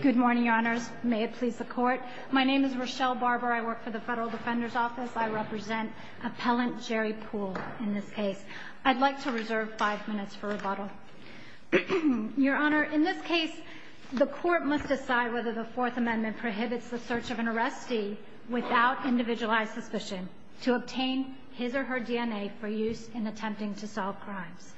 Good morning, Your Honors. May it please the Court. My name is Rochelle Barber. I work for the Federal Defender's Office. I represent Appellant Jerry Pool in this case. I'd like to reserve five minutes for rebuttal. Your Honor, in this case, the Court must decide whether the Fourth Amendment prohibits the search of an arrestee without individualized suspicion to obtain his or her DNA for use in attempting to solve crimes.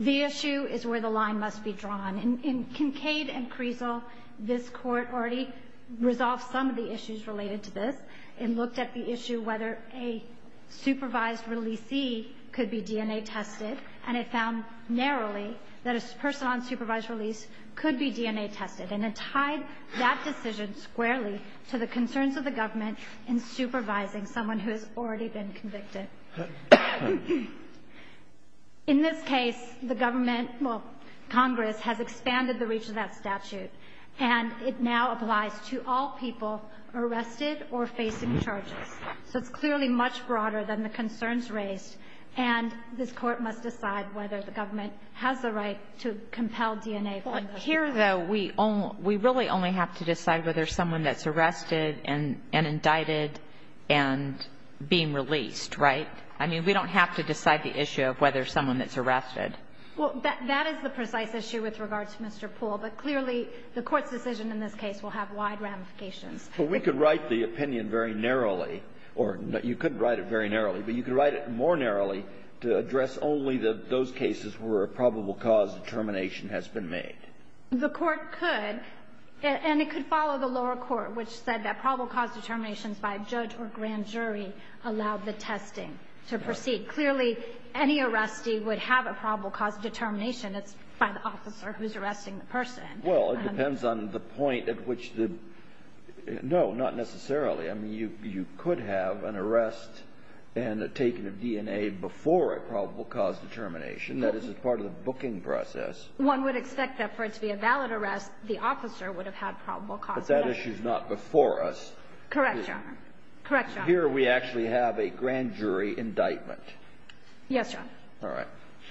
The issue is where the line must be drawn. In Kincaid and Creasle, this Court already resolved some of the issues related to this. It looked at the issue whether a supervised releasee could be DNA tested, and it found narrowly that a person on supervised release could be DNA tested. And it tied that decision squarely to the concerns of the government in supervising someone who has already been convicted. In this case, the government, well, Congress, has expanded the reach of that statute, and it now applies to all people arrested or facing charges. So it's clearly much broader than the concerns raised, and this Court must decide whether the government has the right to compel DNA from those people. But here, though, we really only have to decide whether someone that's arrested and indicted and being released, right? I mean, we don't have to decide the issue of whether someone that's arrested. Well, that is the precise issue with regard to Mr. Pool, but clearly the Court's decision in this case will have wide ramifications. But we could write the opinion very narrowly, or you couldn't write it very narrowly, but you could write it more narrowly to address only those cases where a probable cause determination has been made. The Court could, and it could follow the lower court, which said that probable cause determinations by a judge or grand jury allowed the testing to proceed. Clearly, any arrestee would have a probable cause determination. It's by the officer who's arresting the person. Well, it depends on the point at which the – no, not necessarily. I mean, you could have an arrest and a taking of DNA before a probable cause determination. That is part of the booking process. One would expect that for it to be a valid arrest, the officer would have had probable cause determination. But that issue's not before us. Correct, Your Honor. Correct, Your Honor. Here we actually have a grand jury indictment. Yes, Your Honor. All right.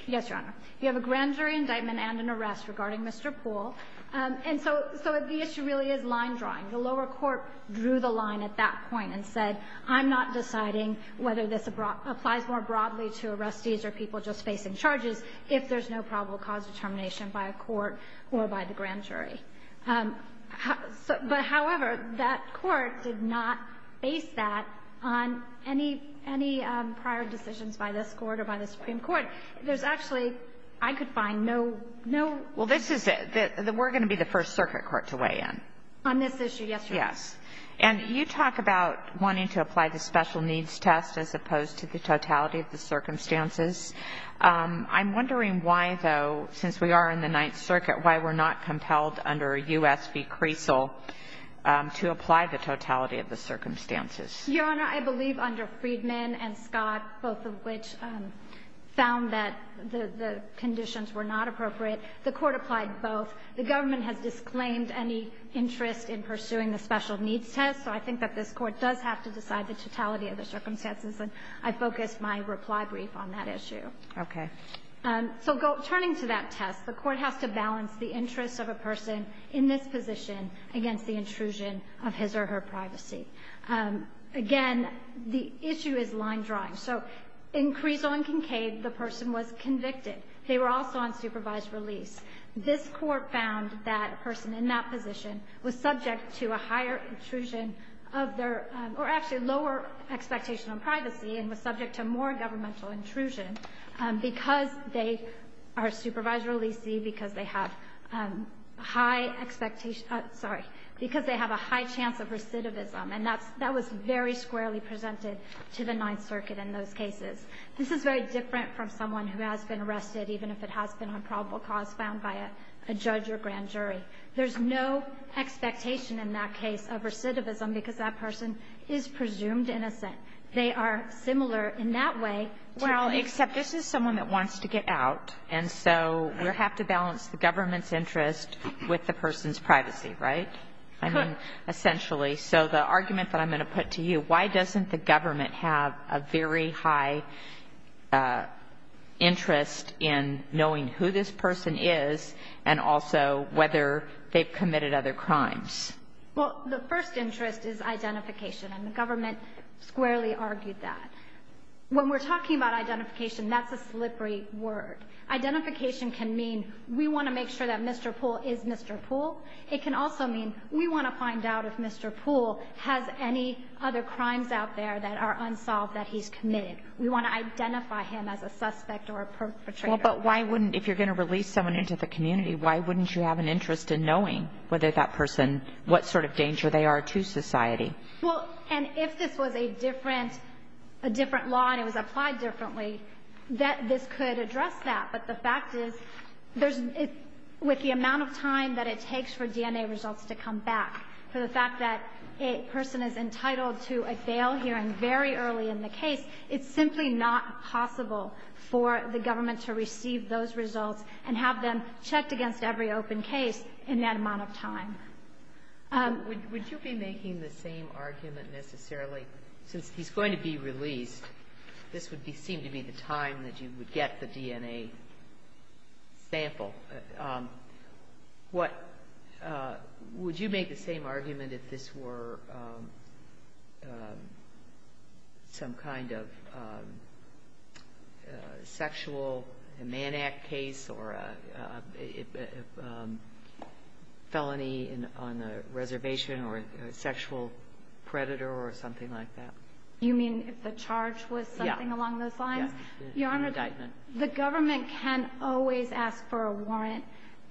Yes, Your Honor. You have a grand jury indictment and an arrest regarding Mr. Pool. And so the issue really is line drawing. The lower court drew the line at that point and said, I'm not deciding whether this applies more broadly to arrestees or people just facing charges if there's no probable cause determination by a court or by the grand jury. But, however, that court did not base that on any prior decisions by this Court or by the Supreme Court. There's actually, I could find no – no – Well, this is – we're going to be the First Circuit court to weigh in. On this issue, yes, Your Honor. Yes. And you talk about wanting to apply the special needs test as opposed to the totality of the circumstances. I'm wondering why, though, since we are in the Ninth Circuit, why we're not compelled under a U.S. v. Creasel to apply the totality of the circumstances. Your Honor, I believe under Friedman and Scott, both of which found that the conditions were not appropriate, the court applied both. The government has disclaimed any interest in pursuing the special needs test, so I think that this Court does have to decide the totality of the circumstances, and I focused my reply brief on that issue. Okay. So turning to that test, the Court has to balance the interests of a person in this position against the intrusion of his or her privacy. Again, the issue is line drawing. So in Creasel and Kincaid, the person was convicted. They were also on supervised release. This Court found that a person in that position was subject to a higher intrusion of their or actually lower expectation on privacy and was subject to more governmental intrusion because they are supervised releasee, because they have high expectation sorry, because they have a high chance of recidivism. And that was very squarely presented to the Ninth Circuit in those cases. This is very different from someone who has been arrested even if it has been on probable cause found by a judge or grand jury. There's no expectation in that case of recidivism because that person is presumed innocent. They are similar in that way to place. Well, except this is someone that wants to get out, and so we have to balance the government's interest with the person's privacy, right? I mean, essentially. So the argument that I'm going to put to you, why doesn't the government have a very high interest in knowing who this person is and also whether they've committed other crimes? Well, the first interest is identification. And the government squarely argued that. When we're talking about identification, that's a slippery word. Identification can mean we want to make sure that Mr. Poole is Mr. Poole. It can also mean we want to find out if Mr. Poole has any other crimes out there that are unsolved that he's committed. We want to identify him as a suspect or a perpetrator. Well, but why wouldn't, if you're going to release someone into the community, why wouldn't you have an interest in knowing whether that person, what sort of danger they are to society? Well, and if this was a different law and it was applied differently, this could address that. But the fact is, with the amount of time that it takes for DNA results to come back, for the fact that a person is entitled to a bail hearing very early in the case, it's simply not possible for the government to receive those results and have them checked against every open case in that amount of time. Would you be making the same argument, necessarily, since he's going to be released, this would seem to be the time that you would get the DNA sample? Would you make the same argument if this were some kind of sexual, a man act case, or a felony on a reservation, or a sexual predator, or something like that? You mean if the charge was something along those lines? Yeah. Yeah. The indictment. The government can always ask for a warrant.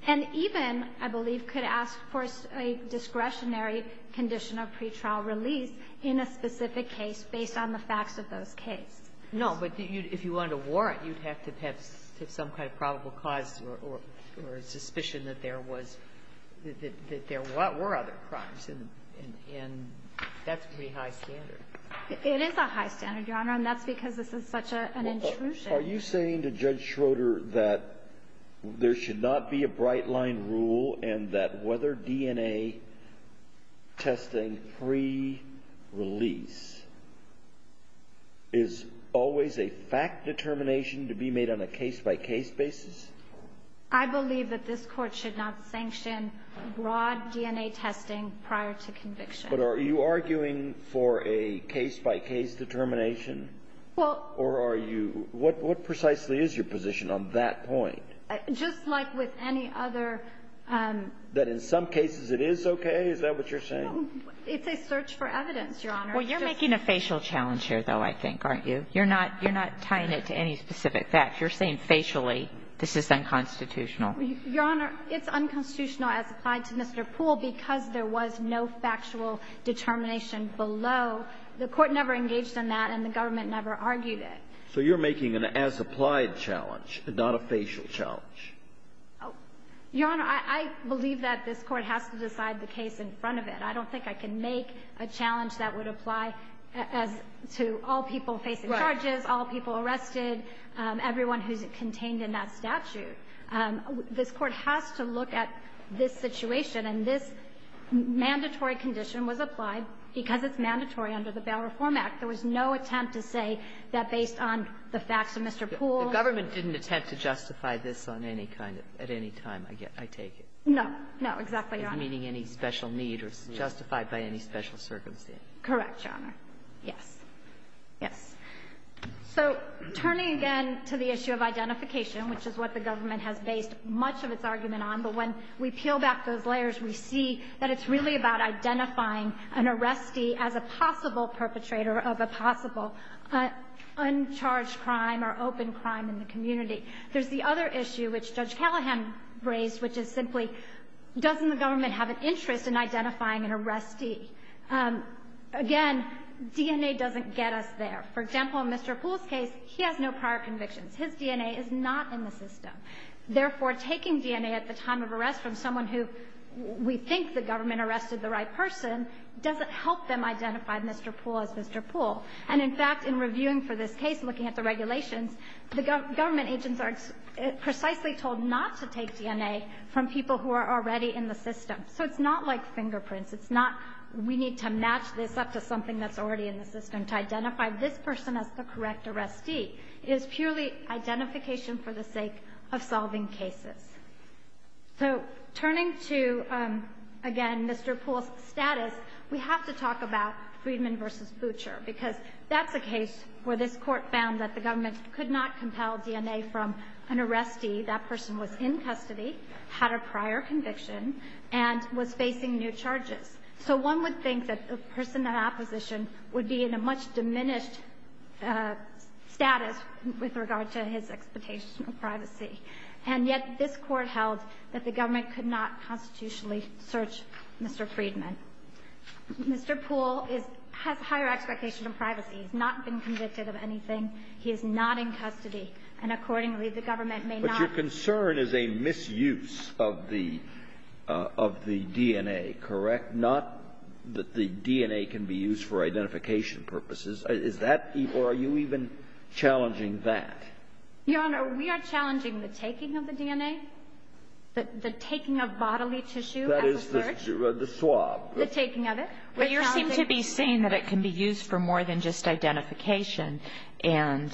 And even, I believe, could ask for a discretionary condition of pretrial release in a specific case based on the facts of those cases. No, but if you wanted a warrant, you'd have to have some kind of probable cause or suspicion that there was, that there were other crimes, and that's pretty high standard. It is a high standard, Your Honor, and that's because this is such an intrusion. Are you saying to Judge Schroeder that there should not be a bright-line rule and that whether DNA testing pre-release is always a fact determination to be made on a case-by-case basis? I believe that this Court should not sanction broad DNA testing prior to conviction. But are you arguing for a case-by-case determination? Well — Or are you — what precisely is your position on that point? Just like with any other — That in some cases it is okay? Is that what you're saying? No. It's a search for evidence, Your Honor. Well, you're making a facial challenge here, though, I think, aren't you? You're not tying it to any specific fact. You're saying facially this is unconstitutional. Your Honor, it's unconstitutional as applied to Mr. Poole because there was no factual determination below. The Court never engaged in that, and the government never argued it. So you're making an as-applied challenge, not a facial challenge. Your Honor, I believe that this Court has to decide the case in front of it. I don't think I can make a challenge that would apply to all people facing charges, all people arrested, everyone who's contained in that statute. This Court has to look at this situation. And this mandatory condition was applied because it's mandatory under the Bail Reform Act. There was no attempt to say that based on the facts of Mr. Poole — The government didn't attempt to justify this on any kind of — at any time, I take it. No. No, exactly, Your Honor. Meaning any special need or justified by any special circumstance. Correct, Your Honor. Yes. Yes. So turning again to the issue of identification, which is what the government has based much of its argument on, but when we peel back those layers, we see that it's really about identifying an arrestee as a possible perpetrator of a possible uncharged crime or open crime in the community. There's the other issue, which Judge Callahan raised, which is simply, doesn't the government have an interest in identifying an arrestee? Again, DNA doesn't get us there. For example, in Mr. Poole's case, he has no prior convictions. His DNA is not in the system. Therefore, taking DNA at the time of arrest from someone who we think the government arrested the right person doesn't help them identify Mr. Poole as Mr. Poole. And in fact, in reviewing for this case, looking at the regulations, the government agents are precisely told not to take DNA from people who are already in the system. So it's not like fingerprints. It's not we need to match this up to something that's already in the system. To identify this person as the correct arrestee is purely identification for the sake of solving cases. So turning to, again, Mr. Poole's status, we have to talk about Friedman v. Butcher, because that's a case where this court found that the government could not compel DNA from an arrestee. That person was in custody, had a prior conviction, and was facing new charges. So one would think that a person in opposition would be in a much diminished status with regard to his expectation of privacy. And yet this court held that the government could not constitutionally search Mr. Friedman. Mr. Poole is – has higher expectations of privacy. He's not been convicted of anything. He is not in custody. And accordingly, the government may not – of the DNA, correct? Not that the DNA can be used for identification purposes. Is that – or are you even challenging that? Your Honor, we are challenging the taking of the DNA, the taking of bodily tissue as a search. That is the swab. The taking of it. But you seem to be saying that it can be used for more than just identification. And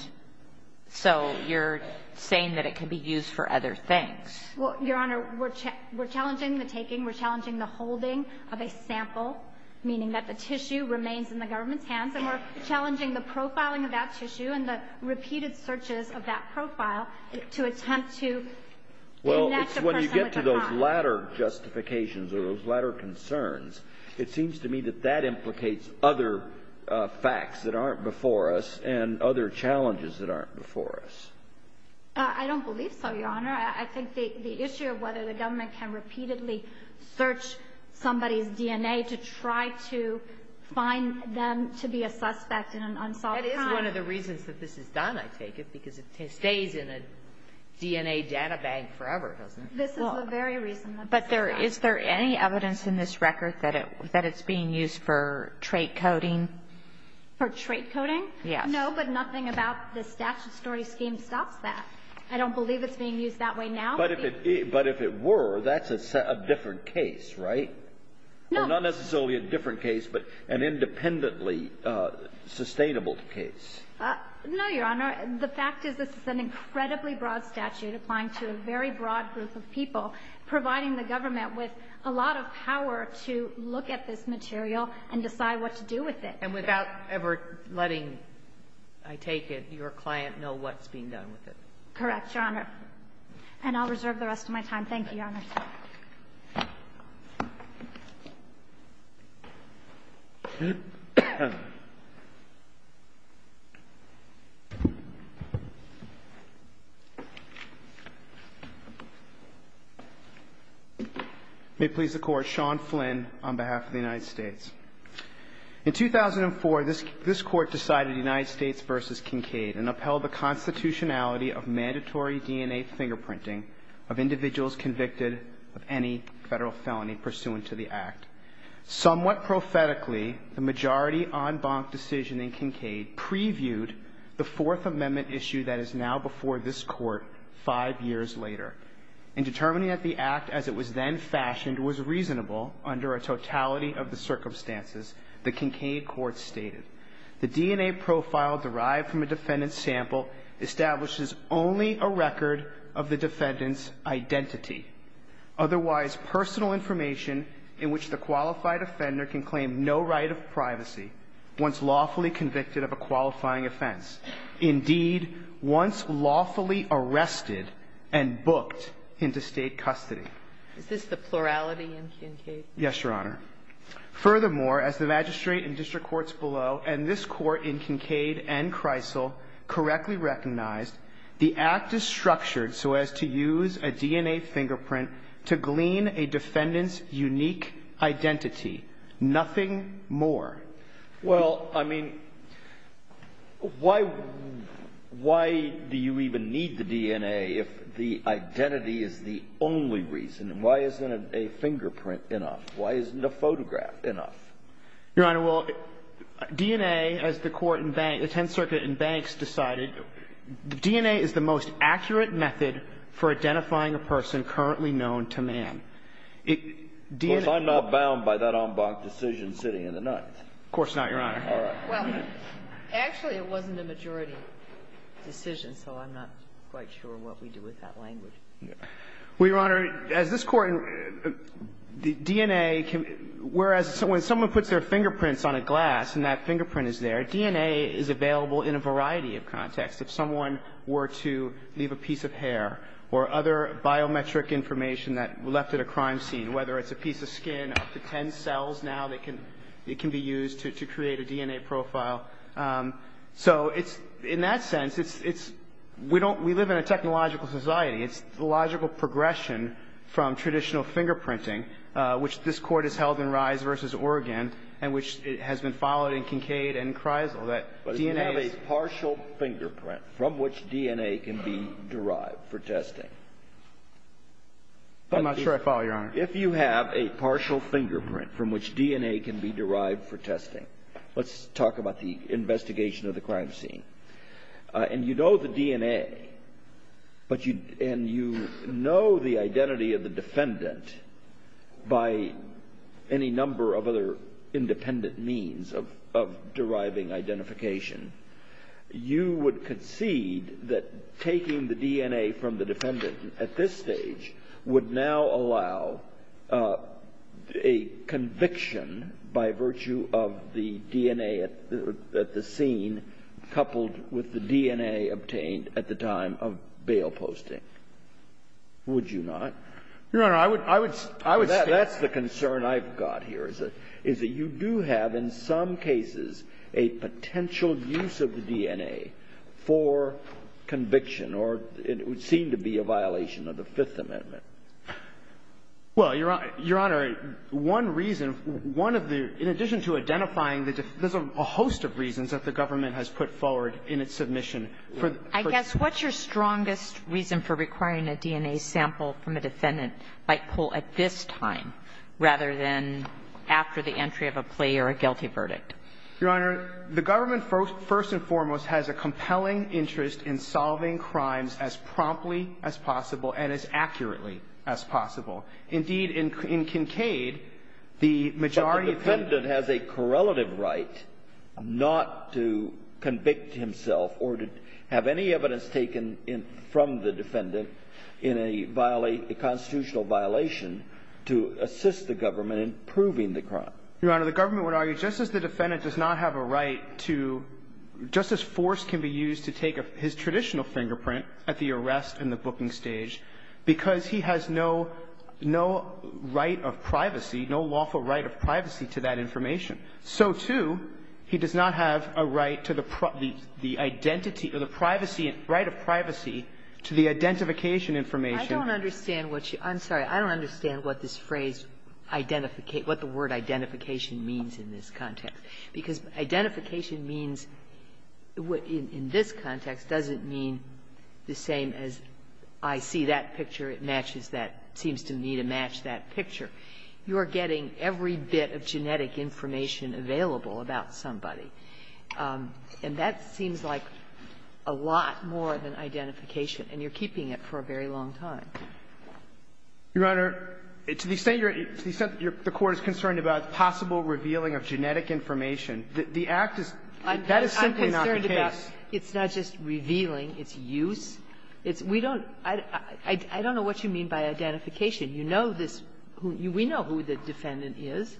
so you're saying that it can be used for other things. Well, Your Honor, we're challenging the taking, we're challenging the holding of a sample, meaning that the tissue remains in the government's hands, and we're challenging the profiling of that tissue and the repeated searches of that profile to attempt to connect a person with a crime. Well, when you get to those latter justifications or those latter concerns, it seems to me that that implicates other facts that aren't before us and other challenges that aren't before us. I don't believe so, Your Honor. I think the issue of whether the government can repeatedly search somebody's DNA to try to find them to be a suspect in an unsolved crime. That is one of the reasons that this is done, I take it, because it stays in a DNA data bank forever, doesn't it? This is the very reason that it's done. But is there any evidence in this record that it's being used for trait coding? For trait coding? Yes. No, but nothing about the statute story scheme stops that. I don't believe it's being used that way now. But if it were, that's a different case, right? No. Well, not necessarily a different case, but an independently sustainable case. No, Your Honor. The fact is this is an incredibly broad statute applying to a very broad group of people, providing the government with a lot of power to look at this material and decide what to do with it. And without ever letting, I take it, your client know what's being done with it. Correct, Your Honor. And I'll reserve the rest of my time. Thank you, Your Honor. May it please the Court, Sean Flynn on behalf of the United States. In 2004, this Court decided United States v. Kincaid and upheld the constitutionality of mandatory DNA fingerprinting of individuals convicted of any Federal felony pursuant to the Act. Somewhat prophetically, the majority en banc decision in Kincaid previewed the Fourth Amendment issue that is now before this Court five years later. And determining that the Act as it was then fashioned was reasonable under a totality of the circumstances, the Kincaid Court stated, The DNA profile derived from a defendant's sample establishes only a record of the defendant's identity, otherwise personal information in which the qualified offender can claim no right of privacy once lawfully convicted of a qualifying offense, indeed, once lawfully arrested and booked into State custody. Is this the plurality in Kincaid? Yes, Your Honor. Furthermore, as the magistrate in district courts below and this Court in Kincaid and Kreisel correctly recognized, the Act is structured so as to use a DNA fingerprint to glean a defendant's unique identity, nothing more. Well, I mean, why do you even need the DNA if the identity is the only reason? And why isn't a fingerprint enough? Why isn't a photograph enough? Your Honor, well, DNA, as the court in Bank – the Tenth Circuit in Banks decided, DNA is the most accurate method for identifying a person currently known to man. Of course, I'm not bound by that en banc decision sitting in the ninth. Of course not, Your Honor. All right. Well, actually, it wasn't a majority decision, so I'm not quite sure what we do with that language. Well, Your Honor, as this court – the DNA – whereas when someone puts their fingerprints on a glass and that fingerprint is there, DNA is available in a variety of contexts. If someone were to leave a piece of hair or other biometric information that were left at a crime scene, whether it's a piece of skin, up to ten cells now that can – it can be used to create a DNA profile. So it's – in that sense, it's – we don't – we live in a technological society. It's the logical progression from traditional fingerprinting, which this court has held in Rise v. Oregon, and which has been followed in Kincaid and Kreisel, that DNA is – But if you have a partial fingerprint from which DNA can be derived for testing – I'm not sure I follow, Your Honor. If you have a partial fingerprint from which DNA can be derived for testing – let's talk about the investigation of the crime scene. And you know the DNA, but you – and you know the identity of the defendant by any number of other independent means of deriving identification. You would concede that taking the DNA from the defendant at this stage would now allow a conviction by virtue of the DNA at the scene coupled with the DNA obtained at the time of bail posting, would you not? Your Honor, I would – I would stand – That's the concern I've got here, is that you do have in some cases a potential use of the DNA for conviction, or it would seem to be a violation of the Fifth Amendment. Well, Your Honor, one reason, one of the – in addition to identifying the – there's a host of reasons that the government has put forward in its submission. I guess what's your strongest reason for requiring a DNA sample from a defendant by pull at this time rather than after the entry of a plea or a guilty verdict? Your Honor, the government first and foremost has a compelling interest in solving crimes as promptly as possible and as accurately as possible. Indeed, in Kincaid, the majority of the – But the defendant has a correlative right not to convict himself or to have any evidence taken in – from the defendant in a constitutional violation to assist the government in proving the crime. Your Honor, the government would argue just as the defendant does not have a right to – just as force can be used to take his traditional fingerprint at the arrest and the booking stage because he has no right of privacy, no lawful right of privacy to that information, so, too, he does not have a right to the identity or the privacy – right of privacy to the identification information. I don't understand what you – I'm sorry. I don't understand what this phrase – what the word identification means in this context doesn't mean the same as, I see that picture, it matches that, seems to me to match that picture. You are getting every bit of genetic information available about somebody, and that seems like a lot more than identification, and you're keeping it for a very long time. Your Honor, to the extent you're – to the extent the Court is concerned about a possible revealing of genetic information, the act is – that is simply not the case. I'm concerned about it's not just revealing, it's use. It's – we don't – I don't know what you mean by identification. You know this – we know who the defendant is.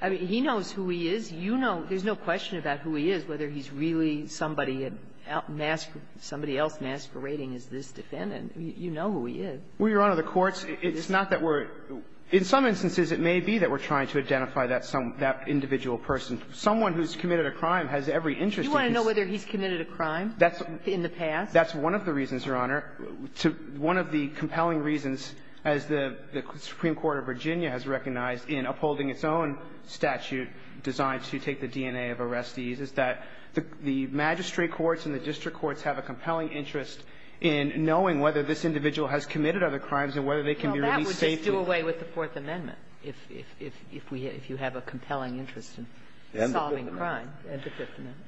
I mean, he knows who he is. You know – there's no question about who he is, whether he's really somebody at – somebody else masquerading as this defendant. You know who he is. Well, Your Honor, the Court's – it's not that we're – in some instances, it may be that we're trying to identify that some – that individual person. Someone who's committed a crime has every interest in his – Do you want to know whether he's committed a crime in the past? That's one of the reasons, Your Honor. One of the compelling reasons, as the Supreme Court of Virginia has recognized in upholding its own statute designed to take the DNA of arrestees, is that the magistrate courts and the district courts have a compelling interest in knowing whether this individual has committed other crimes and whether they can be released safely. We'll do away with the Fourth Amendment if we – if you have a compelling interest in solving crime. And the Fifth Amendment.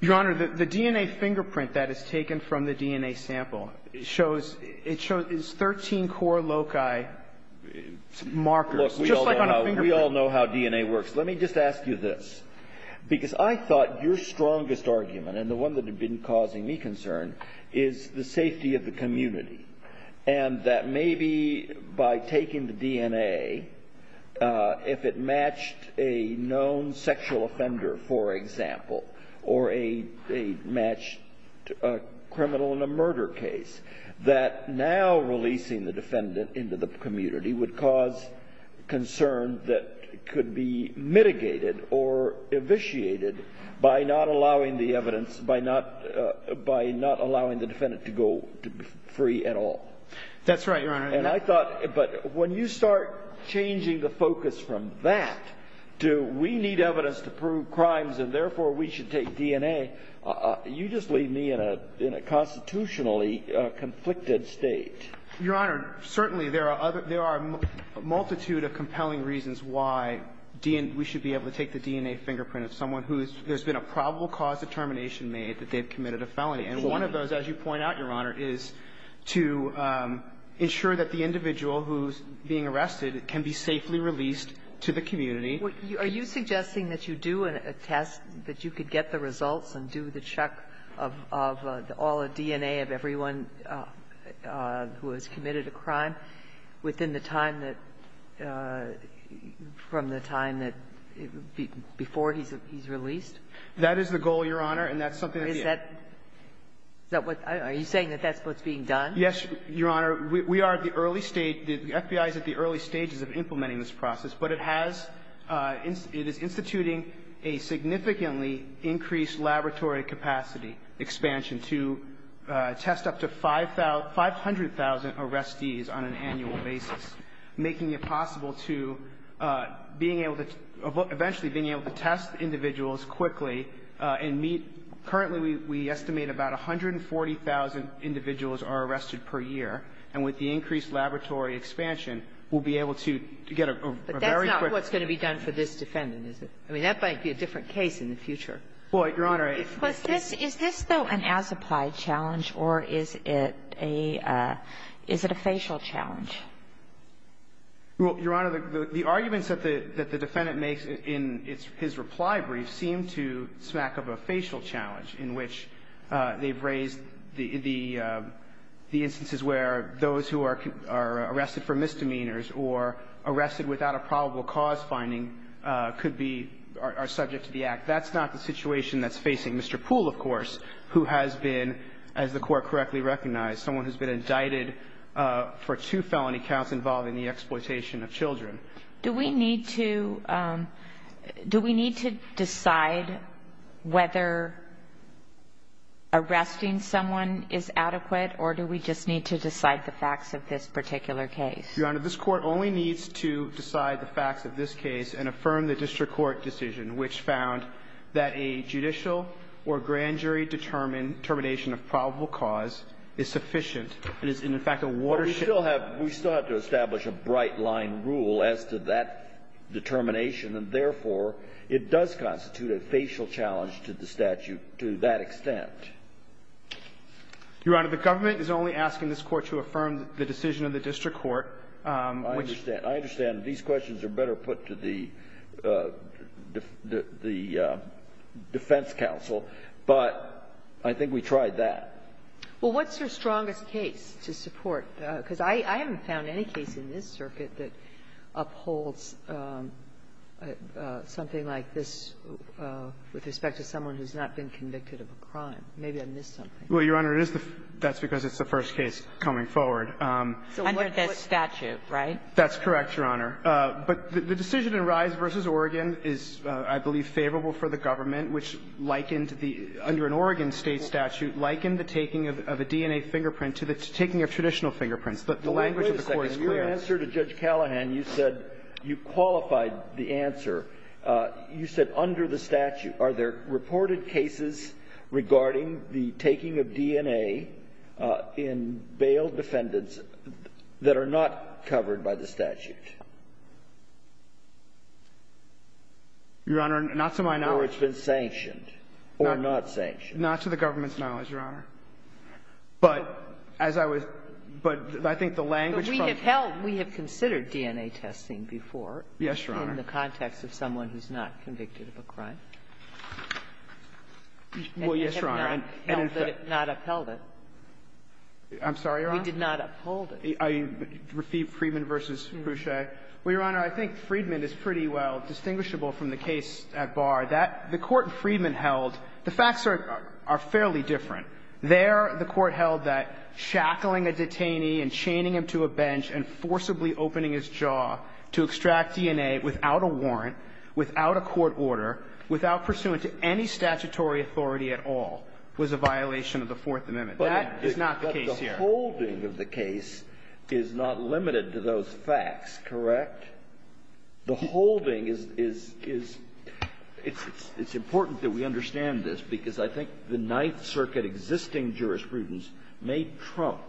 Your Honor, the DNA fingerprint that is taken from the DNA sample shows – it shows it's 13 core loci markers, just like on a fingerprint. Look, we all know how DNA works. Let me just ask you this, because I thought your strongest argument, and the one that had been causing me concern, is the safety of the community, and that maybe by taking the DNA, if it matched a known sexual offender, for example, or a – a matched criminal in a murder case, that now releasing the defendant into the community would cause concern that could be mitigated or evisciated by not allowing the evidence – by not – by not allowing the defendant to go – to be free at all. That's right, Your Honor. And I thought – but when you start changing the focus from that to we need evidence to prove crimes, and therefore we should take DNA, you just leave me in a – in a constitutionally conflicted state. Your Honor, certainly there are other – there are a multitude of compelling reasons why DNA – we should be able to take the DNA fingerprint of someone who's – there's been a probable cause of termination made that they've committed a felony. And one of those, as you point out, Your Honor, is to ensure that the individual who's being arrested can be safely released to the community. Are you suggesting that you do a test, that you could get the results and do the check of all the DNA of everyone who has committed a crime within the time that – from the time that – before he's released? That is the goal, Your Honor, and that's something that we – Is that – is that what – are you saying that that's what's being done? Yes, Your Honor. We are at the early stage – the FBI is at the early stages of implementing this process, but it has – it is instituting a significantly increased laboratory capacity expansion to test up to 500,000 arrestees on an annual basis, making it possible to being able to – eventually being able to test individuals quickly and meet – currently we estimate about 140,000 individuals are arrested per year. And with the increased laboratory expansion, we'll be able to get a very quick – But that's not what's going to be done for this defendant, is it? I mean, that might be a different case in the future. Well, Your Honor, I – Is this – is this, though, an as-applied challenge, or is it a – is it a facial challenge? Well, Your Honor, the arguments that the – that the defendant makes in his reply brief seem to smack of a facial challenge, in which they've raised the – the instances where those who are arrested for misdemeanors or arrested without a probable cause finding could be – are subject to the act. That's not the situation that's facing Mr. Poole, of course, who has been, as the money counts, involved in the exploitation of children. Do we need to – do we need to decide whether arresting someone is adequate, or do we just need to decide the facts of this particular case? Your Honor, this Court only needs to decide the facts of this case and affirm the district court decision, which found that a judicial or grand jury determination of probable cause is sufficient. It is, in fact, a watershed – But we still have – we still have to establish a bright-line rule as to that determination, and therefore, it does constitute a facial challenge to the statute to that extent. Your Honor, the government is only asking this Court to affirm the decision of the district court, which – I understand. I understand. These questions are better put to the – the defense counsel, but I think we tried that. Well, what's your strongest case to support? Because I haven't found any case in this circuit that upholds something like this with respect to someone who's not been convicted of a crime. Maybe I missed something. Well, Your Honor, it is the – that's because it's the first case coming forward. So what – Under this statute, right? That's correct, Your Honor. But the decision in Rise v. Oregon is, I believe, favorable for the government, which likened the – under an Oregon State statute, likened the taking of a DNA fingerprint to the taking of traditional fingerprints. The language of the Court is clear. Wait a second. Your answer to Judge Callahan, you said – you qualified the answer. You said under the statute. Are there reported cases regarding the taking of DNA in bail defendants that are not covered by the statute? Your Honor, not to my knowledge. So it's been sanctioned or not sanctioned. Not to the government's knowledge, Your Honor. But as I was – but I think the language from the – But we have held – we have considered DNA testing before. Yes, Your Honor. In the context of someone who's not convicted of a crime. Well, yes, Your Honor. And we have not held it – not upheld it. I'm sorry, Your Honor? We did not uphold it. Are you – Friedman v. Boucher? Well, Your Honor, I think Friedman is pretty well distinguishable from the case at bar. The court in Friedman held – the facts are fairly different. There, the court held that shackling a detainee and chaining him to a bench and forcibly opening his jaw to extract DNA without a warrant, without a court order, without pursuant to any statutory authority at all, was a violation of the Fourth Amendment. That is not the case here. But the holding of the case is not limited to those facts, correct? The holding is – it's important that we understand this because I think the Ninth Circuit existing jurisprudence may trump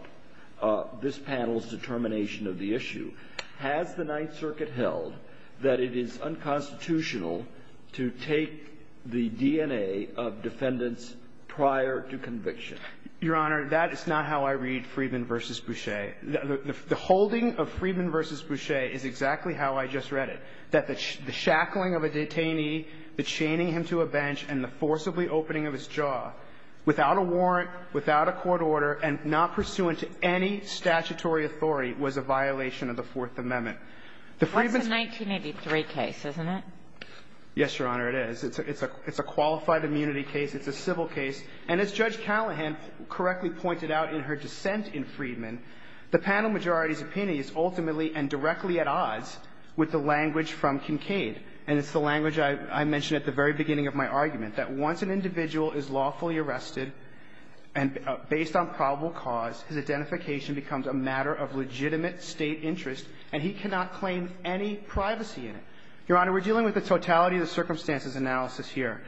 this panel's determination of the issue. Has the Ninth Circuit held that it is unconstitutional to take the DNA of defendants prior to conviction? Your Honor, that is not how I read Friedman v. Boucher. The holding of Friedman v. Boucher is exactly how I just read it. That the shackling of a detainee, the chaining him to a bench, and the forcibly opening of his jaw without a warrant, without a court order, and not pursuant to any statutory authority was a violation of the Fourth Amendment. The Friedman's – That's a 1983 case, isn't it? Yes, Your Honor, it is. It's a qualified immunity case. It's a civil case. And as Judge Callahan correctly pointed out in her dissent in Friedman, the panel majority's opinion is ultimately and directly at odds with the language from Kincaid, and it's the language I mentioned at the very beginning of my argument, that once an individual is lawfully arrested and based on probable cause, his identification becomes a matter of legitimate State interest, and he cannot claim any privacy in it. Your Honor, we're dealing with the totality of the circumstances analysis here.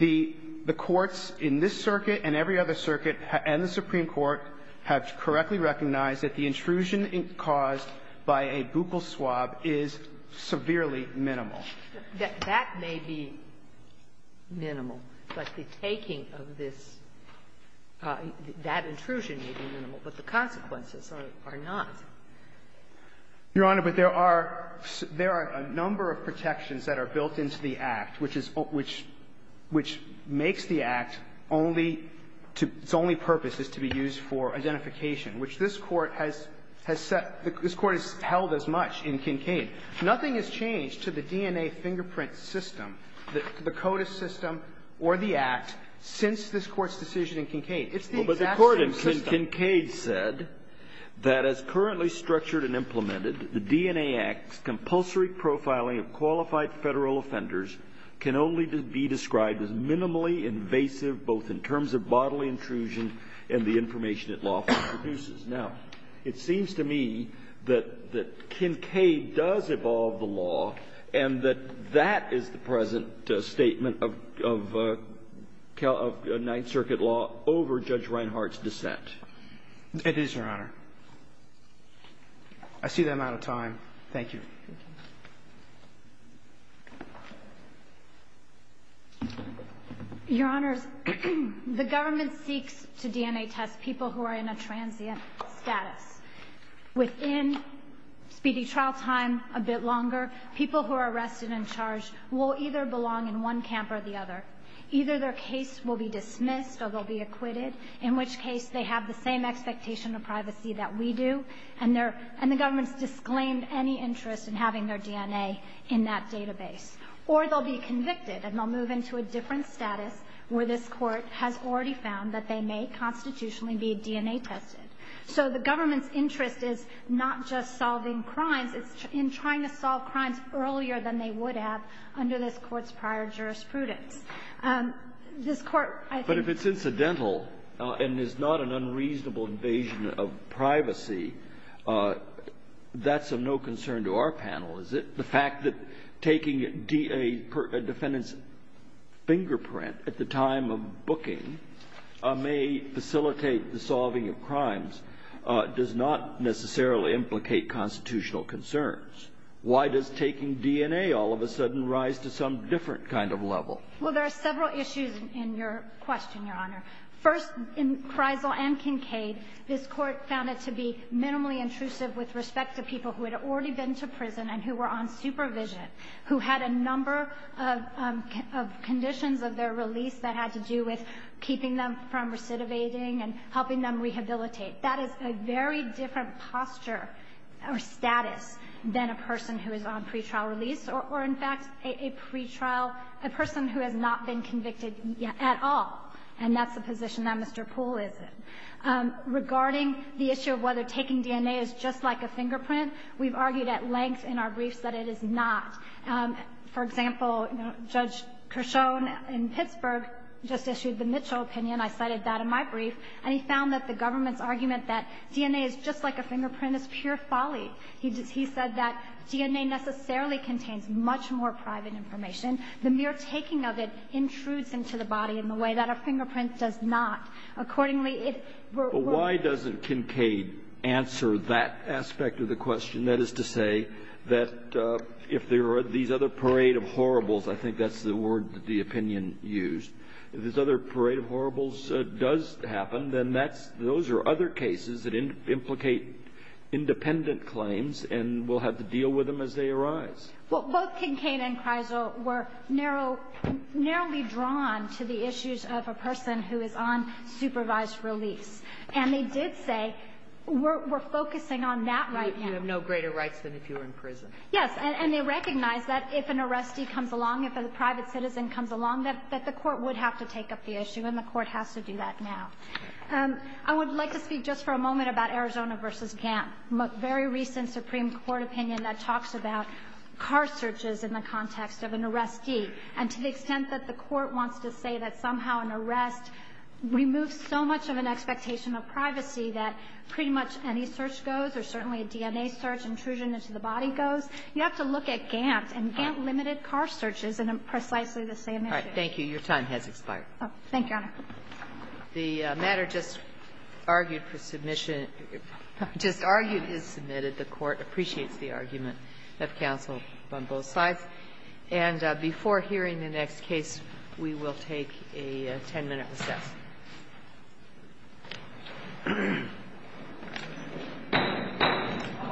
The courts in this circuit and every other circuit and the Supreme Court have correctly recognized that the intrusion caused by a buccal swab is severely minimal. That may be minimal, but the taking of this – that intrusion may be minimal, but the consequences are not. Your Honor, but there are – there are a number of protections that are built into the Act, which is – which makes the Act only to – its only purpose is to be used for identification, which this Court has set – this Court has held as much in Kincaid. Nothing has changed to the DNA fingerprint system, the CODIS system or the Act, since this Court's decision in Kincaid. It's the exact same system. Well, but the Court in Kincaid said that as currently structured and implemented, the DNA Act's compulsory profiling of qualified Federal offenders can only be described as minimally invasive, both in terms of bodily intrusion and the information it lawfully produces. Now, it seems to me that – that Kincaid does evolve the law and that that is the present statement of – of Ninth Circuit law over Judge Reinhart's dissent. It is, Your Honor. I see that I'm out of time. Thank you. Your Honors, the government seeks to DNA test people who are in a transient status. Within speedy trial time, a bit longer, people who are arrested and charged will either belong in one camp or the other. Either their case will be dismissed or they'll be acquitted, in which case they have the same expectation of privacy that we do, and their – and the government's disclaimed any interest in having their DNA in that database. Or they'll be convicted and they'll move into a different status where this Court has already found that they may constitutionally be DNA tested. So the government's interest is not just solving crimes. It's in trying to solve crimes earlier than they would have under this Court's prior jurisprudence. This Court, I think – Well, there are several issues in your question, Your Honor. First, in Kreisel and Kincaid, this Court found it to be minimally intrusive with respect to people who had already been to prison and who were on supervision, who had a number of conditions of their release that had to do with keeping them from recidivating and helping them rehabilitate. That is a very different posture or status than a person who is on pretrial release or, in fact, a pretrial – a person who has not been convicted at all. And that's the position that Mr. Poole is in. Regarding the issue of whether taking DNA is just like a fingerprint, we've argued at length in our briefs that it is not. For example, Judge Creschon in Pittsburgh just issued the Mitchell opinion. I cited that in my brief. And he found that the government's argument that DNA is just like a fingerprint is pure folly. He said that DNA necessarily contains much more private information. The mere taking of it intrudes into the body in the way that a fingerprint does not. Accordingly, it – But why doesn't Kincaid answer that aspect of the question? That is to say that if there are these other parade of horribles, I think that's the word that the opinion used. If there's other parade of horribles does happen, then that's – those are other cases that implicate independent claims and we'll have to deal with them as they Well, both Kincaid and Kreisel were narrowly drawn to the issues of a person who is on supervised release. And they did say we're focusing on that right now. You have no greater rights than if you were in prison. Yes. And they recognized that if an arrestee comes along, if a private citizen comes along, that the court would have to take up the issue and the court has to do that now. I would like to speak just for a moment about Arizona v. Gantt, a very recent Supreme Court opinion that talks about car searches in the context of an arrestee. And to the extent that the Court wants to say that somehow an arrest removes so much of an expectation of privacy that pretty much any search goes or certainly a DNA search, intrusion into the body goes, you have to look at Gantt. And Gantt limited car searches in precisely the same issue. All right. Your time has expired. Thank you, Your Honor. The matter just argued for submission, just argued is submitted. The Court appreciates the argument of counsel on both sides. And before hearing the next case, we will take a 10-minute recess.